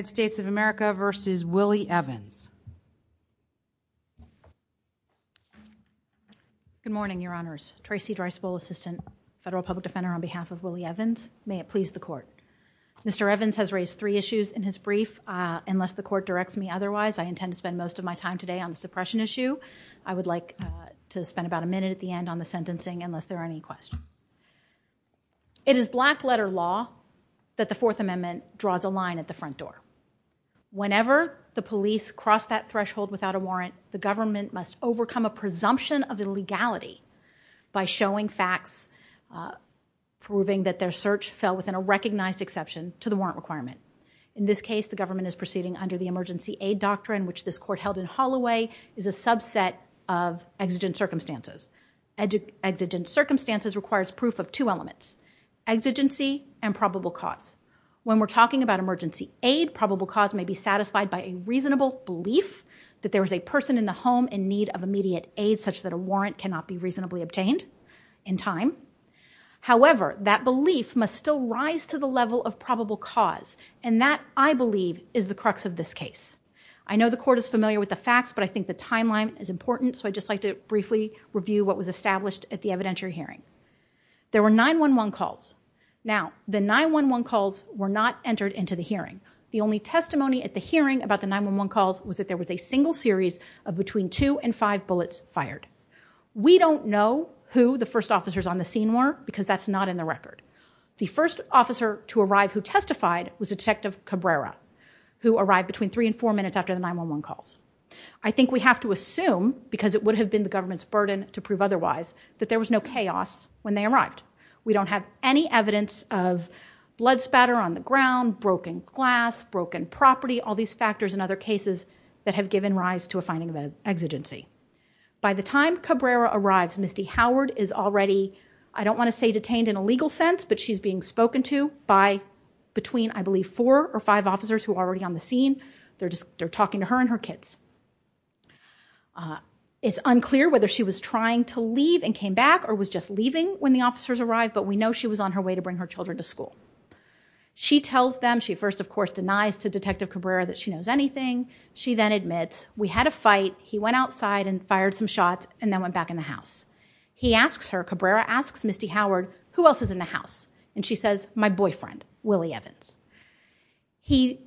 Good morning, your honors. Tracy Dreisboul, assistant federal public defender on behalf of Willie Evans. May it please the court. Mr. Evans has raised three issues in his brief. Unless the court directs me otherwise, I intend to spend most of my time today on the suppression issue. I would like to spend about a minute at the end on the sentencing unless there are any questions. It is black letter law that the Fourth Amendment draws a line at the front door. Whenever the police cross that threshold without a warrant, the government must overcome a presumption of illegality by showing facts proving that their search fell within a recognized exception to the warrant requirement. In this case, the government is proceeding under the emergency aid doctrine, which this court held in Holloway is a subset of exigent circumstances. Exigent circumstances requires proof of two elements, exigency and emergency aid. Probable cause may be satisfied by a reasonable belief that there was a person in the home in need of immediate aid such that a warrant cannot be reasonably obtained in time. However, that belief must still rise to the level of probable cause, and that, I believe, is the crux of this case. I know the court is familiar with the facts, but I think the timeline is important, so I'd just like to briefly review what was established at the evidentiary hearing. There were 9-1-1 calls. Now, the 9-1-1 calls were not entered into the hearing. The only testimony at the hearing about the 9-1-1 calls was that there was a single series of between two and five bullets fired. We don't know who the first officers on the scene were, because that's not in the record. The first officer to arrive who testified was Detective Cabrera, who arrived between three and four minutes after the 9-1-1 calls. I think we have to assume, because it would have been the government's burden to prove otherwise, that there was no chaos when they arrived. We don't have any evidence of blood spatter on the ground, broken glass, broken property, all these factors in other cases that have given rise to a finding of exigency. By the time Cabrera arrives, Misty Howard is already, I don't want to say detained in a legal sense, but she's being spoken to by between, I believe, four or five officers who are already on the scene. They're talking to her and her kids. It's unclear whether she was trying to leave and came back or was just leaving when the officers arrived, but we know she was on her way to bring her children to school. She tells them, she first of course denies to Detective Cabrera that she knows anything. She then admits, we had a fight, he went outside and fired some shots and then went back in the house. He asks her, Cabrera asks Misty Howard, who else is in the house? And she says, my boyfriend, Willie Evans. He,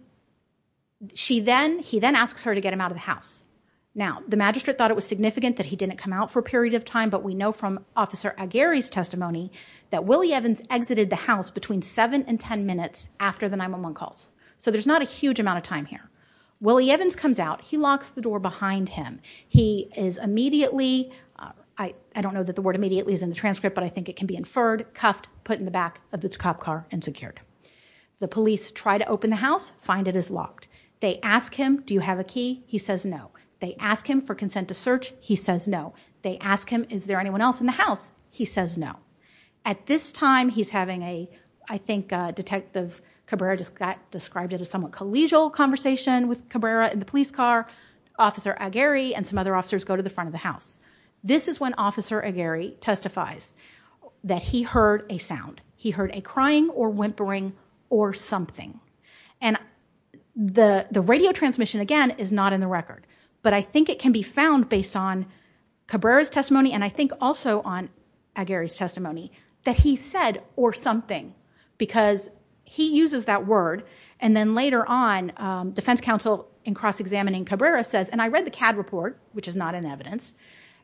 she then, he then asks her to get him out of the house. Now, the magistrate thought it was significant that he didn't come out for a period of time, but we know from Officer Aguirre's testimony that Willie Evans exited the house between seven and 10 minutes after the 911 calls. So there's not a huge amount of time here. Willie Evans comes out, he locks the door behind him. He is immediately, I don't know that the word immediately is in the transcript, but I think it can be inferred, cuffed, put in the back of the cop car and secured. The police try to open the house, find it is locked. They ask him, do you have a key? He says no. They ask him for consent to search. He says no. They ask him, is there anyone else in the house? He says no. At this time, he's having a, I think a detective Cabrera just got described it as somewhat collegial conversation with Cabrera in the police car. Officer Aguirre and some other officers go to the front of the house. This is when Officer Aguirre testifies that he heard a sound. He heard a crying or whimpering or something. And the, the radio transmission again is not in the record, but I think it can be found based on Cabrera's testimony. And I think also on Aguirre's testimony that he said, or something, because he uses that word. And then later on, um, defense counsel in cross-examining Cabrera says, and I read the CAD report, which is not an evidence.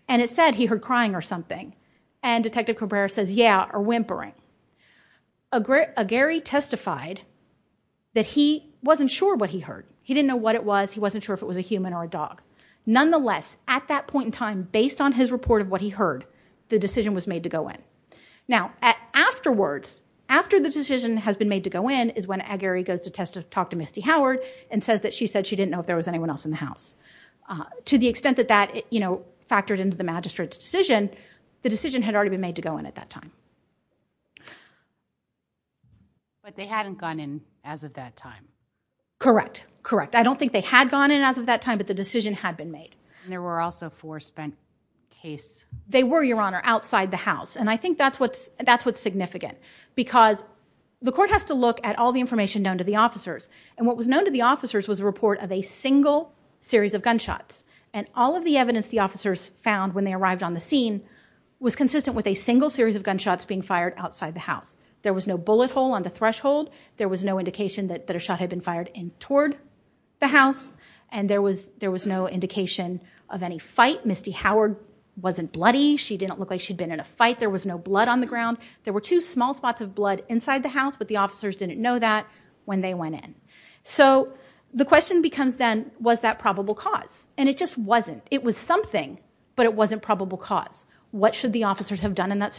And it said he heard crying or something. And detective Cabrera says, yeah, or whimpering. Aguirre, Aguirre testified that he wasn't sure what he heard. He didn't know what it was. He wasn't sure if it was a human or a dog. Nonetheless, at that point in time, based on his report of what he heard, the decision was made to go in. Now at afterwards, after the decision has been made to go in is when Aguirre goes to test to talk to Misty Howard and says that she said she didn't know if there was anyone else in the house. Uh, to the extent that that, you know, factored into the magistrate's decision, the decision had already been made to go in at that time. But they hadn't gone in as of that time. Correct. I don't think they had gone in as of that time, but the decision had been made and there were also four spent case. They were your honor outside the house. And I think that's what's, that's what's significant because the court has to look at all the information known to the officers and what was known to the officers was a report of a single series of gunshots and all of the evidence the officers found when they arrived on the scene was consistent with a single series of gunshots being fired outside the house. There was no bullet hole on the threshold. There was no indication that, that a shot had been fired in toward the house and there was, there was no indication of any fight. Misty Howard wasn't bloody. She didn't look like she'd been in a fight. There was no blood on the ground. There were two small spots of blood inside the house, but the officers didn't know that when they went in. So the question becomes then was that probable cause? And it just wasn't, it was something, but it wasn't probable cause. What should the officers have done in that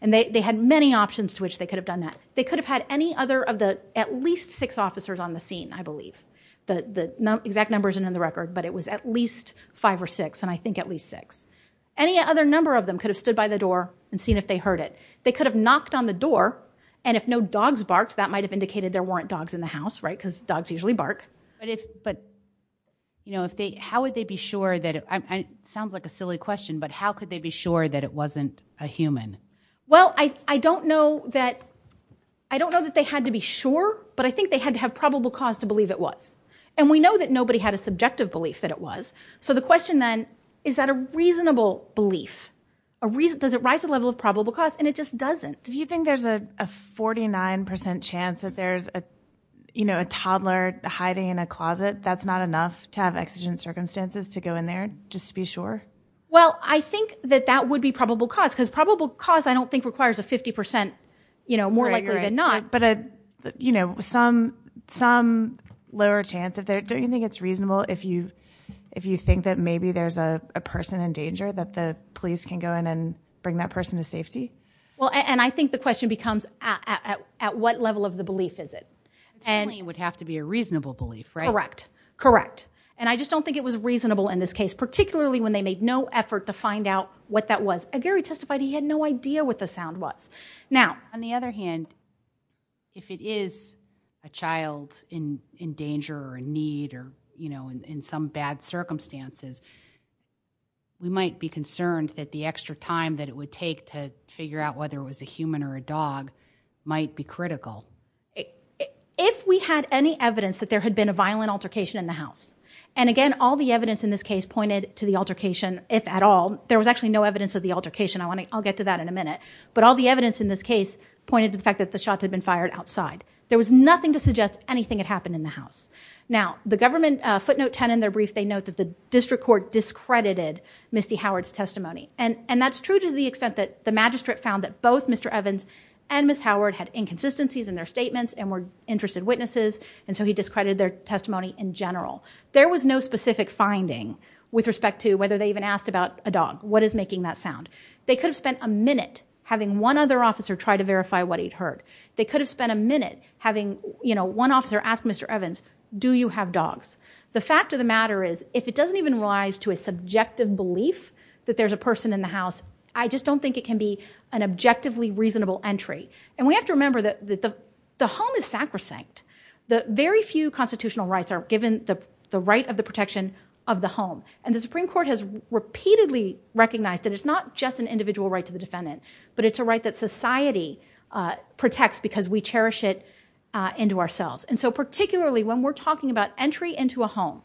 And they, they had many options to which they could have done that. They could have had any other of the, at least six officers on the scene, I believe the, the exact numbers and in the record, but it was at least five or six. And I think at least six, any other number of them could have stood by the door and seen if they heard it, they could have knocked on the door. And if no dogs barked, that might've indicated there weren't dogs in the house, right? Cause dogs usually bark. But if, but you know, if they, how would they be sure that it sounds like a silly question, but how could they be sure that it wasn't a human? Well, I, I don't know that. I don't know that they had to be sure, but I think they had to have probable cause to believe it was. And we know that nobody had a subjective belief that it was. So the question then is that a reasonable belief, a reason, does it rise to the level of probable cause? And it just doesn't. Do you think there's a 49% chance that there's a, you know, a toddler hiding in a closet? That's not enough to have exigent circumstances to go in there just to be sure. Well, I think that that would be probable cause because probable cause I don't think requires a 50%, you know, more likely than not. But, uh, you know, some, some lower chance of that. Don't you think it's reasonable if you, if you think that maybe there's a person in danger that the police can go in and bring that person to safety? Well, and I think the question becomes at, at, at what level of the belief is it? It would have to be a reasonable belief, right? Correct. Correct. And I just don't think it was reasonable in this case, particularly when they made no effort to find out what that was. And Gary testified, he had no idea what the sound was. Now, on the other hand, if it is a child in, in danger or need or, you know, in some bad circumstances, we might be concerned that the extra time that it would take to figure out whether it was a human or a dog might be critical. If we had any evidence that there had been a violent altercation in the house. And again, all the evidence in this case pointed to the fact that there was actually no evidence of the altercation. I want to, I'll get to that in a minute, but all the evidence in this case pointed to the fact that the shots had been fired outside. There was nothing to suggest anything had happened in the house. Now the government, a footnote 10 in their brief, they note that the district court discredited Misty Howard's testimony. And, and that's true to the extent that the magistrate found that both Mr. Evans and Ms. Howard had inconsistencies in their statements and were interested witnesses. And so he discredited their testimony in general. There was no specific finding with respect to whether they even asked about a dog. What is making that sound? They could have spent a minute having one other officer try to verify what he'd heard. They could have spent a minute having, you know, one officer asked Mr. Evans, do you have dogs? The fact of the matter is if it doesn't even rise to a subjective belief that there's a person in the house, I just don't think it can be an objectively reasonable entry. And we have to remember that the home is sacrosanct. The very few constitutional rights are given the right of the protection of the home. And the Supreme Court has repeatedly recognized that it's not just an individual right to the defendant, but it's a right that society protects because we cherish it into ourselves. And so particularly when we're talking about entry into a home,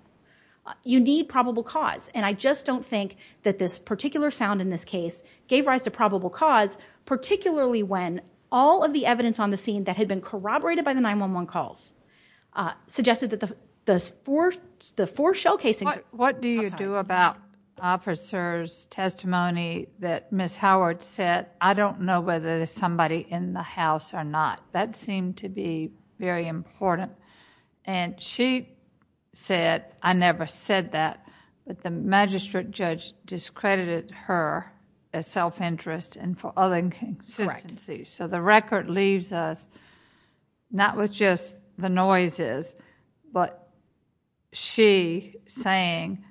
you need probable cause. And I just don't think that this particular sound in this case gave rise to probable cause, particularly when all of the evidence on the scene that had been corroborated by the 911 calls suggested that the four shell casings... What do you do about officers' testimony that Ms. Howard said, I don't know whether there's somebody in the house or not? That seemed to be very important. And she said, I never said that, that the magistrate judge discredited her as self-interest and for other inconsistencies. So the record leaves us not with just the noises, but she saying,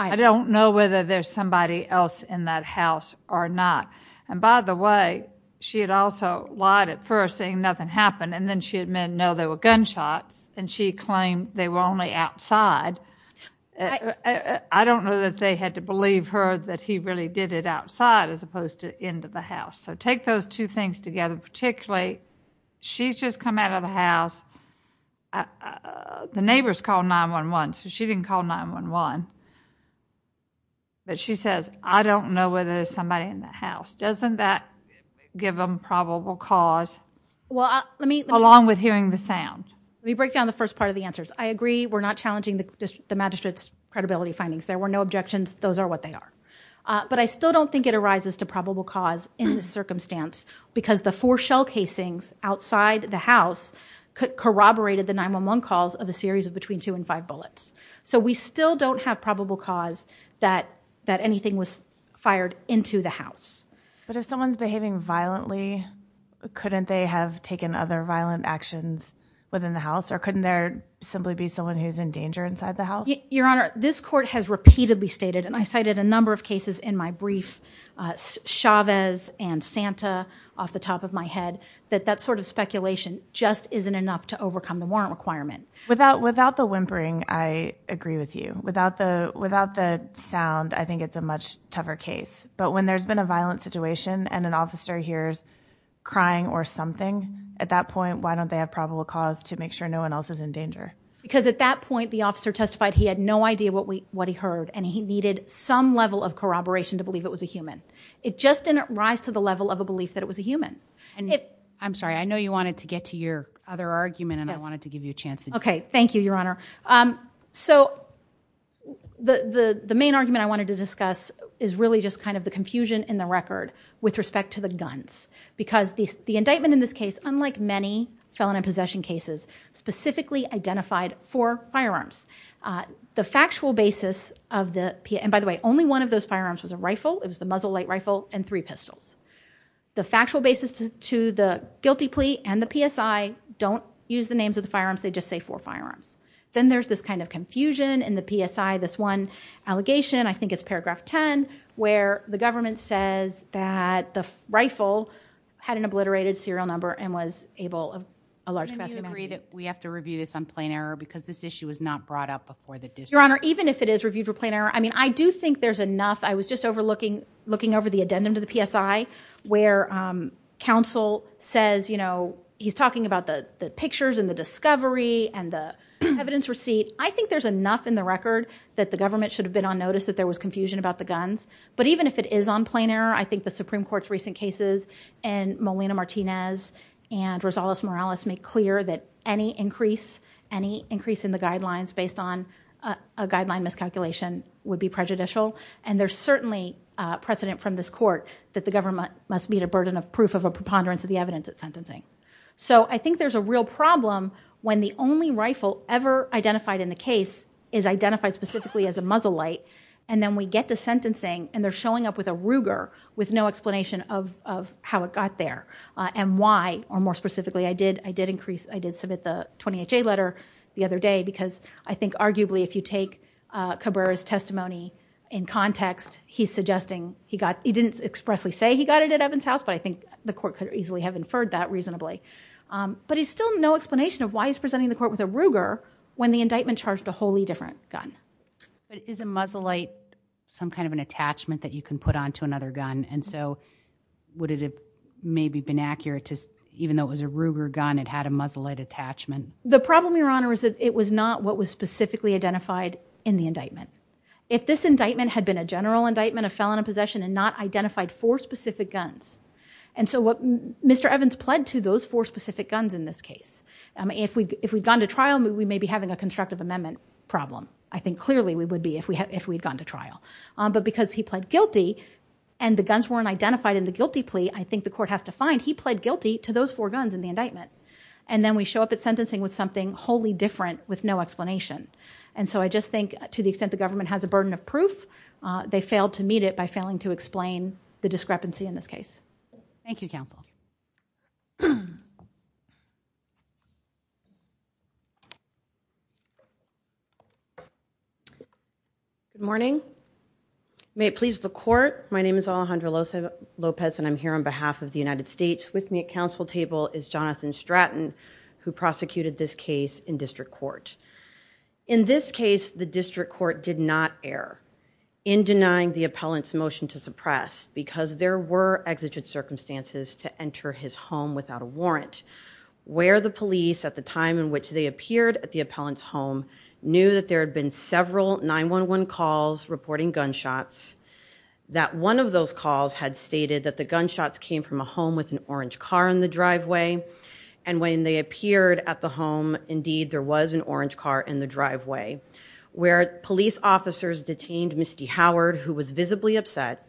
I don't know whether there's somebody else in that house or not. And by the way, she had also lied at first saying nothing happened. And then she admitted, no, there were gunshots. And she claimed they were only outside. I don't know that they had to believe her that he really did it outside as opposed to into the house. So take those two things together. Particularly, she's just come out of the house. The neighbors called 911, so she didn't call 911. But she says, I don't know whether there's somebody in the house. Doesn't that give them probable cause? Well, let me... Along with hearing the sound. Let me break down the first part of the answers. I agree we're not challenging the magistrate's credibility findings. There were no objections. Those are what they are. But I still don't think it arises to probable cause in this circumstance because the four shell casings outside the house corroborated the 911 calls of a series of between two and five bullets. So we still don't have probable cause that anything was fired into the house. But if someone's behaving violently, couldn't they have taken other violent actions within the house? Or couldn't there simply be someone who's in danger inside the house? Your Honor, this court has repeatedly stated, and I cited a number of cases in my brief, Chavez and Santa off the top of my head, that that sort of speculation just isn't enough to overcome the warrant requirement. Without the whimpering, I agree with you. Without the sound, I think it's a much tougher case. But when there's been a violent situation and an officer hears crying or something, at that point, why don't they have probable cause to make sure no one else is in danger? Because at that point, the officer testified he had no idea what he heard, and he needed some level of corroboration to believe it was a human. It just didn't rise to the level of a belief that it was a human. I'm sorry. I know you wanted to get to your other argument, and I wanted to give you a chance to do that. Okay. Thank you, Your Honor. So the main argument I wanted to discuss is really just kind of the confusion in the record with respect to the guns. Because the indictment in this case, unlike many felon and possession cases, specifically identified four firearms. The factual basis of the... And by the way, only one of those firearms was a rifle. It was the muzzle light rifle and three pistols. The factual basis to the guilty plea and the PSI don't use the names of the firearms. They just say four firearms. Then there's this kind of confusion in the PSI, this one allegation, I think it's paragraph 10, where the government says that the rifle had an obliterated serial number and was able of a large capacity... Do you agree that we have to review this on plain error because this issue was not brought up before the district? Your Honor, even if it is reviewed for plain error, I mean, I do think there's enough. I was just overlooking, looking over the addendum to the PSI where counsel says, you know, he's talking about the pictures and the discovery and the evidence receipt. I think there's enough in the record that the government should have been on notice that there was confusion about the guns. But even if it is on plain error, I think the Supreme Court's recent cases and Molina-Martinez and Rosales-Morales make clear that any increase, any increase in the guidelines based on a guideline miscalculation would be prejudicial. And there's certainly precedent from this court that the government must meet a burden of proof of a preponderance of the evidence at sentencing. So I think there's a real problem when the only rifle ever identified in the case is and they're showing up with a Ruger with no explanation of how it got there and why, or more specifically, I did increase, I did submit the 20HA letter the other day because I think arguably if you take Cabrera's testimony in context, he's suggesting he got, he didn't expressly say he got it at Evans House, but I think the court could easily have inferred that reasonably. But he's still no explanation of why he's presenting the court with a Ruger when the indictment charged a wholly different gun. But is a muzzle light some kind of an attachment that you can put onto another gun? And so would it have maybe been accurate to, even though it was a Ruger gun, it had a muzzle light attachment? The problem, Your Honor, is that it was not what was specifically identified in the indictment. If this indictment had been a general indictment, a felon in possession and not identified four specific guns. And so what Mr. Evans pled to those four specific guns in this case. If we'd gone to trial, we may be having a constructive amendment problem. I think clearly we would be if we had gone to trial. But because he pled guilty and the guns weren't identified in the guilty plea, I think the court has to find he pled guilty to those four guns in the indictment. And then we show up at sentencing with something wholly different with no explanation. And so I just think to the extent the government has a burden of proof, they failed to meet it by failing to explain the discrepancy in this case. Thank you, counsel. Good morning. May it please the court. My name is Alejandra Lopez and I'm here on behalf of the United States. With me at counsel table is Jonathan Stratton, who prosecuted this case in district court. In this case, the district court did not err in denying the appellant's motion to suppress because there were exigent circumstances to enter his home without a warrant, where the police at the time in which they appeared at the appellant's home knew that there had been several 911 calls reporting gunshots, that one of those calls had stated that the gunshots came from a home with an orange car in the driveway. And when they appeared at the home, indeed, there was an orange car in the driveway, where police officers detained Misty Howard, who was visibly upset,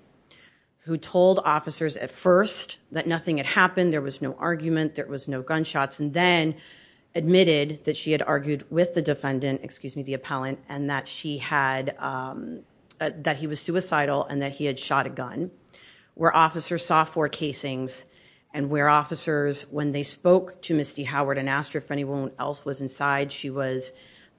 who told officers at first that nothing had happened, there was no argument, there was no gunshots, and then admitted that she had argued with the defendant, excuse me, the appellant, and that he was suicidal and that he had shot a gun, where officers saw four casings, and where officers, when they spoke to Misty Howard and asked her if anyone else was inside, she was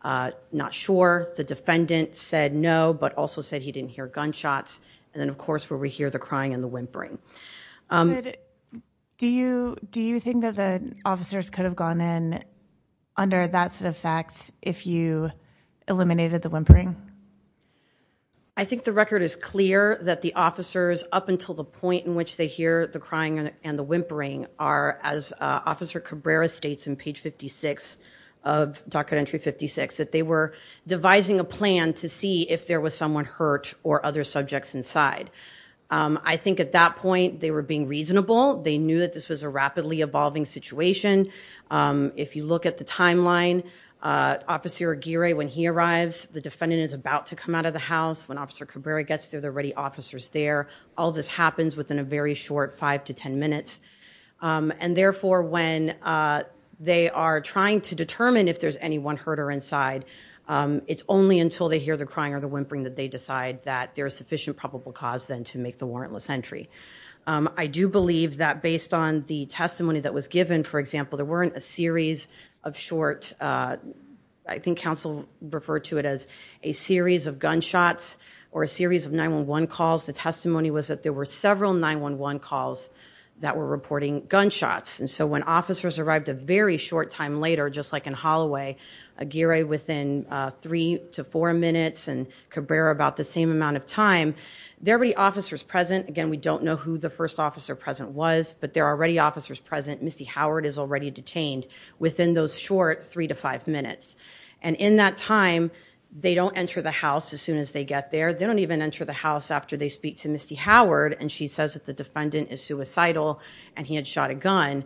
not sure. The defendant said no, but also said he didn't hear gunshots. And then, of course, where we hear the crying and the whimpering. Do you think that the officers could have gone in under that set of facts if you eliminated the whimpering? I think the record is clear that the officers, up until the point in which they hear the crying and the whimpering, are, as Officer Cabrera states in page 56 of Doctrine Entry I think at that point, they were being reasonable. They knew that this was a rapidly evolving situation. If you look at the timeline, Officer Aguirre, when he arrives, the defendant is about to come out of the house. When Officer Cabrera gets there, there are already officers there. All this happens within a very short five to ten minutes. And therefore, when they are trying to determine if there's anyone hurt or inside, it's only until they hear the crying or the whimpering that they decide that there is sufficient probable cause then to make the warrantless entry. I do believe that based on the testimony that was given, for example, there weren't a series of short, I think counsel referred to it as a series of gunshots or a series of 911 calls. The testimony was that there were several 911 calls that were reporting gunshots. So when officers arrived a very short time later, just like in Holloway, Aguirre within three to four minutes and Cabrera about the same amount of time, there are already officers present. Again, we don't know who the first officer present was, but there are already officers present. Misty Howard is already detained within those short three to five minutes. And in that time, they don't enter the house as soon as they get there. They don't even enter the house after they speak to Misty Howard and she says that the defendant is suicidal and he had shot a gun.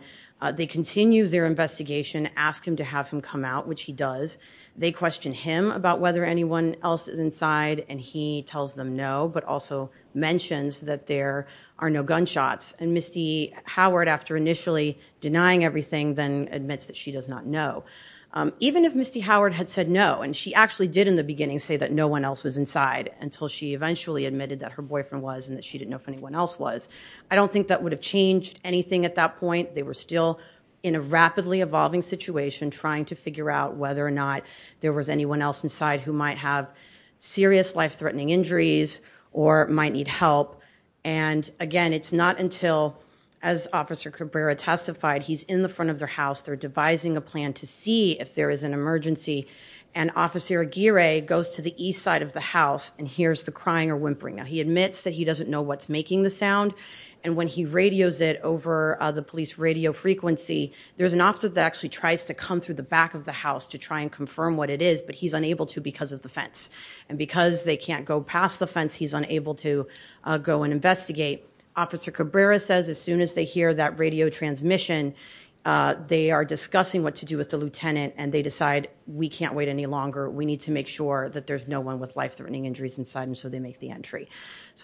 They continue their investigation, ask him to have him come out, which he does. They question him about whether anyone else is inside and he tells them no, but also mentions that there are no gunshots. And Misty Howard, after initially denying everything, then admits that she does not know. Even if Misty Howard had said no, and she actually did in the beginning say that no one else was inside until she eventually admitted that her boyfriend was and that she didn't know if anyone else was. I don't think that would have changed anything at that point. They were still in a rapidly evolving situation trying to figure out whether or not there was anyone else inside who might have serious life-threatening injuries or might need help. And again, it's not until, as Officer Cabrera testified, he's in the front of their house. They're devising a plan to see if there is an emergency and Officer Aguirre goes to the east side of the house and hears the crying or whimpering. Now he admits that he doesn't know what's making the sound and when he radios it over the police radio frequency, there's an officer that actually tries to come through the back of the house to try and confirm what it is, but he's unable to because of the fence. And because they can't go past the fence, he's unable to go and investigate. Officer Cabrera says as soon as they hear that radio transmission, they are discussing what to do with the lieutenant and they decide we can't wait any longer. We need to make sure that there's no one with life-threatening injuries inside and so they make the entry.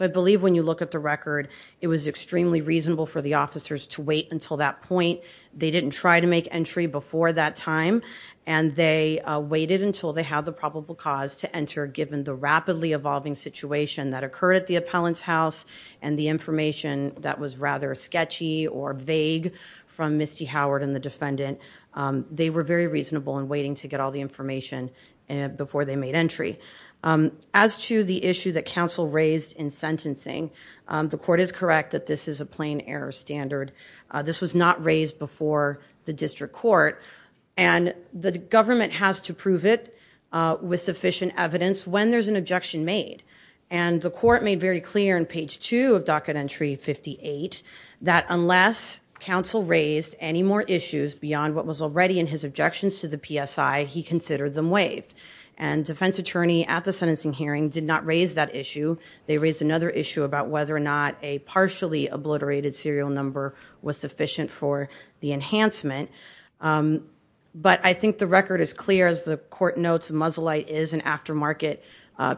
I believe when you look at the record, it was extremely reasonable for the officers to wait until that point. They didn't try to make entry before that time and they waited until they had the probable cause to enter given the rapidly evolving situation that occurred at the appellant's house and the information that was rather sketchy or vague from Misty Howard and the defendant. They were very reasonable in waiting to get all the information before they made entry. As to the issue that counsel raised in sentencing, the court is correct that this is a plain error standard. This was not raised before the district court and the government has to prove it with sufficient evidence when there's an objection made. And the court made very clear in page two of docket entry 58 that unless counsel raised any more issues beyond what was already in his objections to the PSI, he considered them waived. And defense attorney at the sentencing hearing did not raise that issue. They raised another issue about whether or not a partially obliterated serial number was sufficient for the enhancement. But I think the record is clear as the court notes the muzzle light is an aftermarket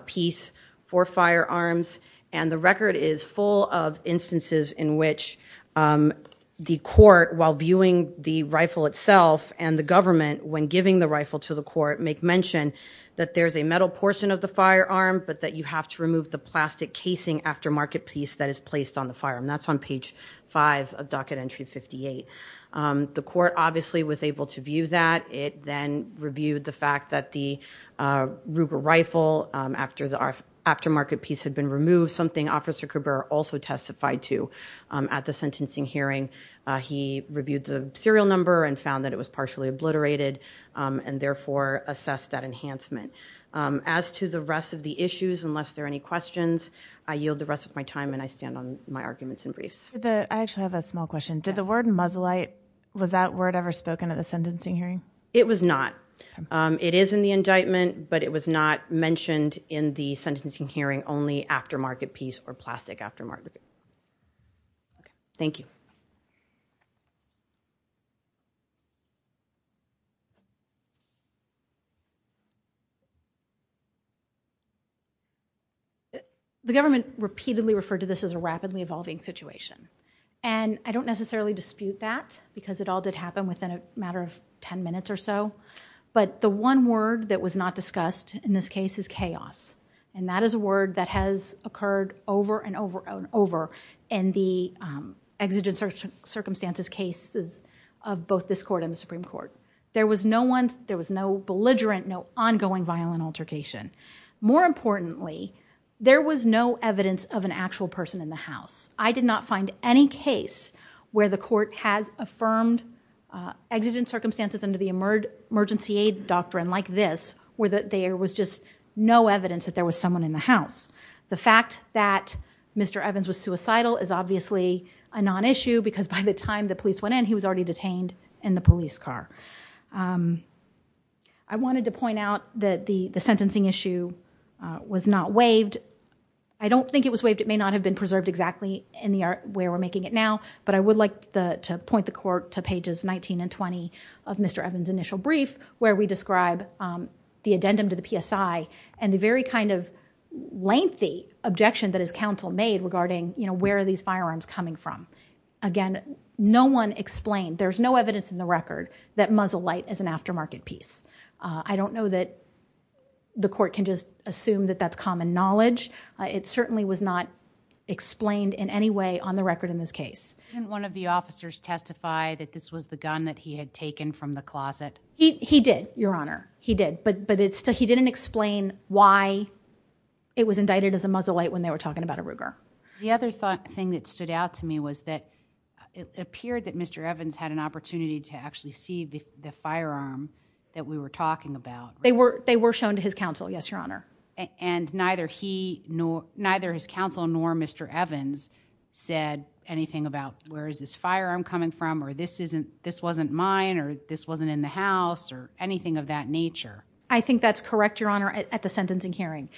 piece for firearms and the record is full of instances in which the court, while viewing the rifle itself and the government, when giving the rifle to the court, make mention that there's a metal portion of the firearm but that you have to remove the plastic casing aftermarket piece that is placed on the firearm. That's on page five of docket entry 58. The court obviously was able to view that. It then reviewed the fact that the Ruger rifle after the aftermarket piece had been removed, something Officer Kruber also testified to at the sentencing hearing. He reviewed the serial number and found that it was partially obliterated and therefore assessed that enhancement. As to the rest of the issues, unless there are any questions, I yield the rest of my time and I stand on my arguments and briefs. I actually have a small question. Did the word muzzle light, was that word ever spoken at the sentencing hearing? It was not. It is in the indictment, but it was not mentioned in the sentencing hearing only aftermarket piece or plastic aftermarket. Thank you. The government repeatedly referred to this as a rapidly evolving situation. I don't necessarily dispute that because it all did happen within a matter of ten minutes or so, but the one word that was not discussed in this case is chaos. That is a word that has occurred over and over and over in the exigent circumstances cases of both this court and the Supreme Court. There was no belligerent, no ongoing violent altercation. More importantly, there was no evidence of an actual person in the house. I did not find any case where the court has there was just no evidence that there was someone in the house. The fact that Mr. Evans was suicidal is obviously a non-issue because by the time the police went in, he was already detained in the police car. I wanted to point out that the sentencing issue was not waived. I don't think it was waived. It may not have been preserved exactly where we are making it now, but I would like to point the court to pages 19 and 20 of Mr. Evans' initial brief where we describe the addendum to the PSI and the very kind of lengthy objection that his counsel made regarding where are these firearms coming from. Again, no one explained, there's no evidence in the record that muzzle light is an aftermarket piece. I don't know that the court can just assume that that's common knowledge. It certainly was not explained in any way on the record in this case. Didn't one of the officers testify that this was the gun that he had taken from the closet? He did, Your Honor. He did, but he didn't explain why it was indicted as a muzzle light when they were talking about a Ruger. The other thing that stood out to me was that it appeared that Mr. Evans had an opportunity to actually see the firearm that we were talking about. They were shown to his counsel, yes, Your Honor. Neither his counsel nor Mr. Evans said anything about where is this firearm coming from or this wasn't mine or this wasn't in the house or anything of that nature. I think that's correct, Your Honor, at the sentencing hearing.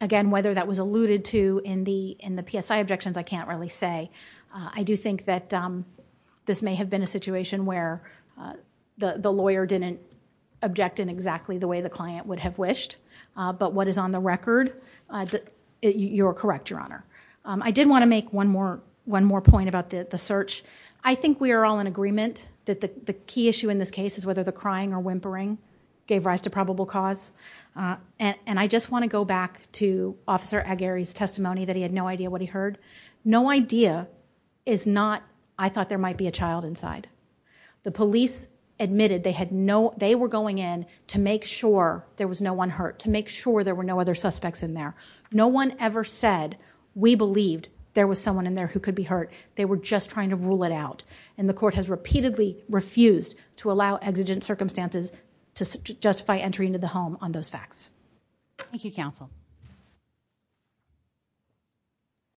Again, whether that was alluded to in the PSI objections, I can't really say. I do think that this may have been a situation where the lawyer didn't object in exactly the way the client would have wished, but what is on the record, you are correct, Your Honor. I did want to make one more point about the search. I think we are all in agreement that the key issue in this case is whether the crying or whimpering gave rise to probable cause. I just want to go back to Officer Aguirre's testimony that he had no idea what he heard. No idea is not, I thought there might be a child inside. The police admitted they were going in to make sure there was no one hurt, to make sure there were no other suspects in there. No one ever said, we believed there was someone in there who could be hurt. They were just trying to rule it out. The court has repeatedly refused to allow exigent circumstances to justify entering into the home on those facts. Thank you, counsel.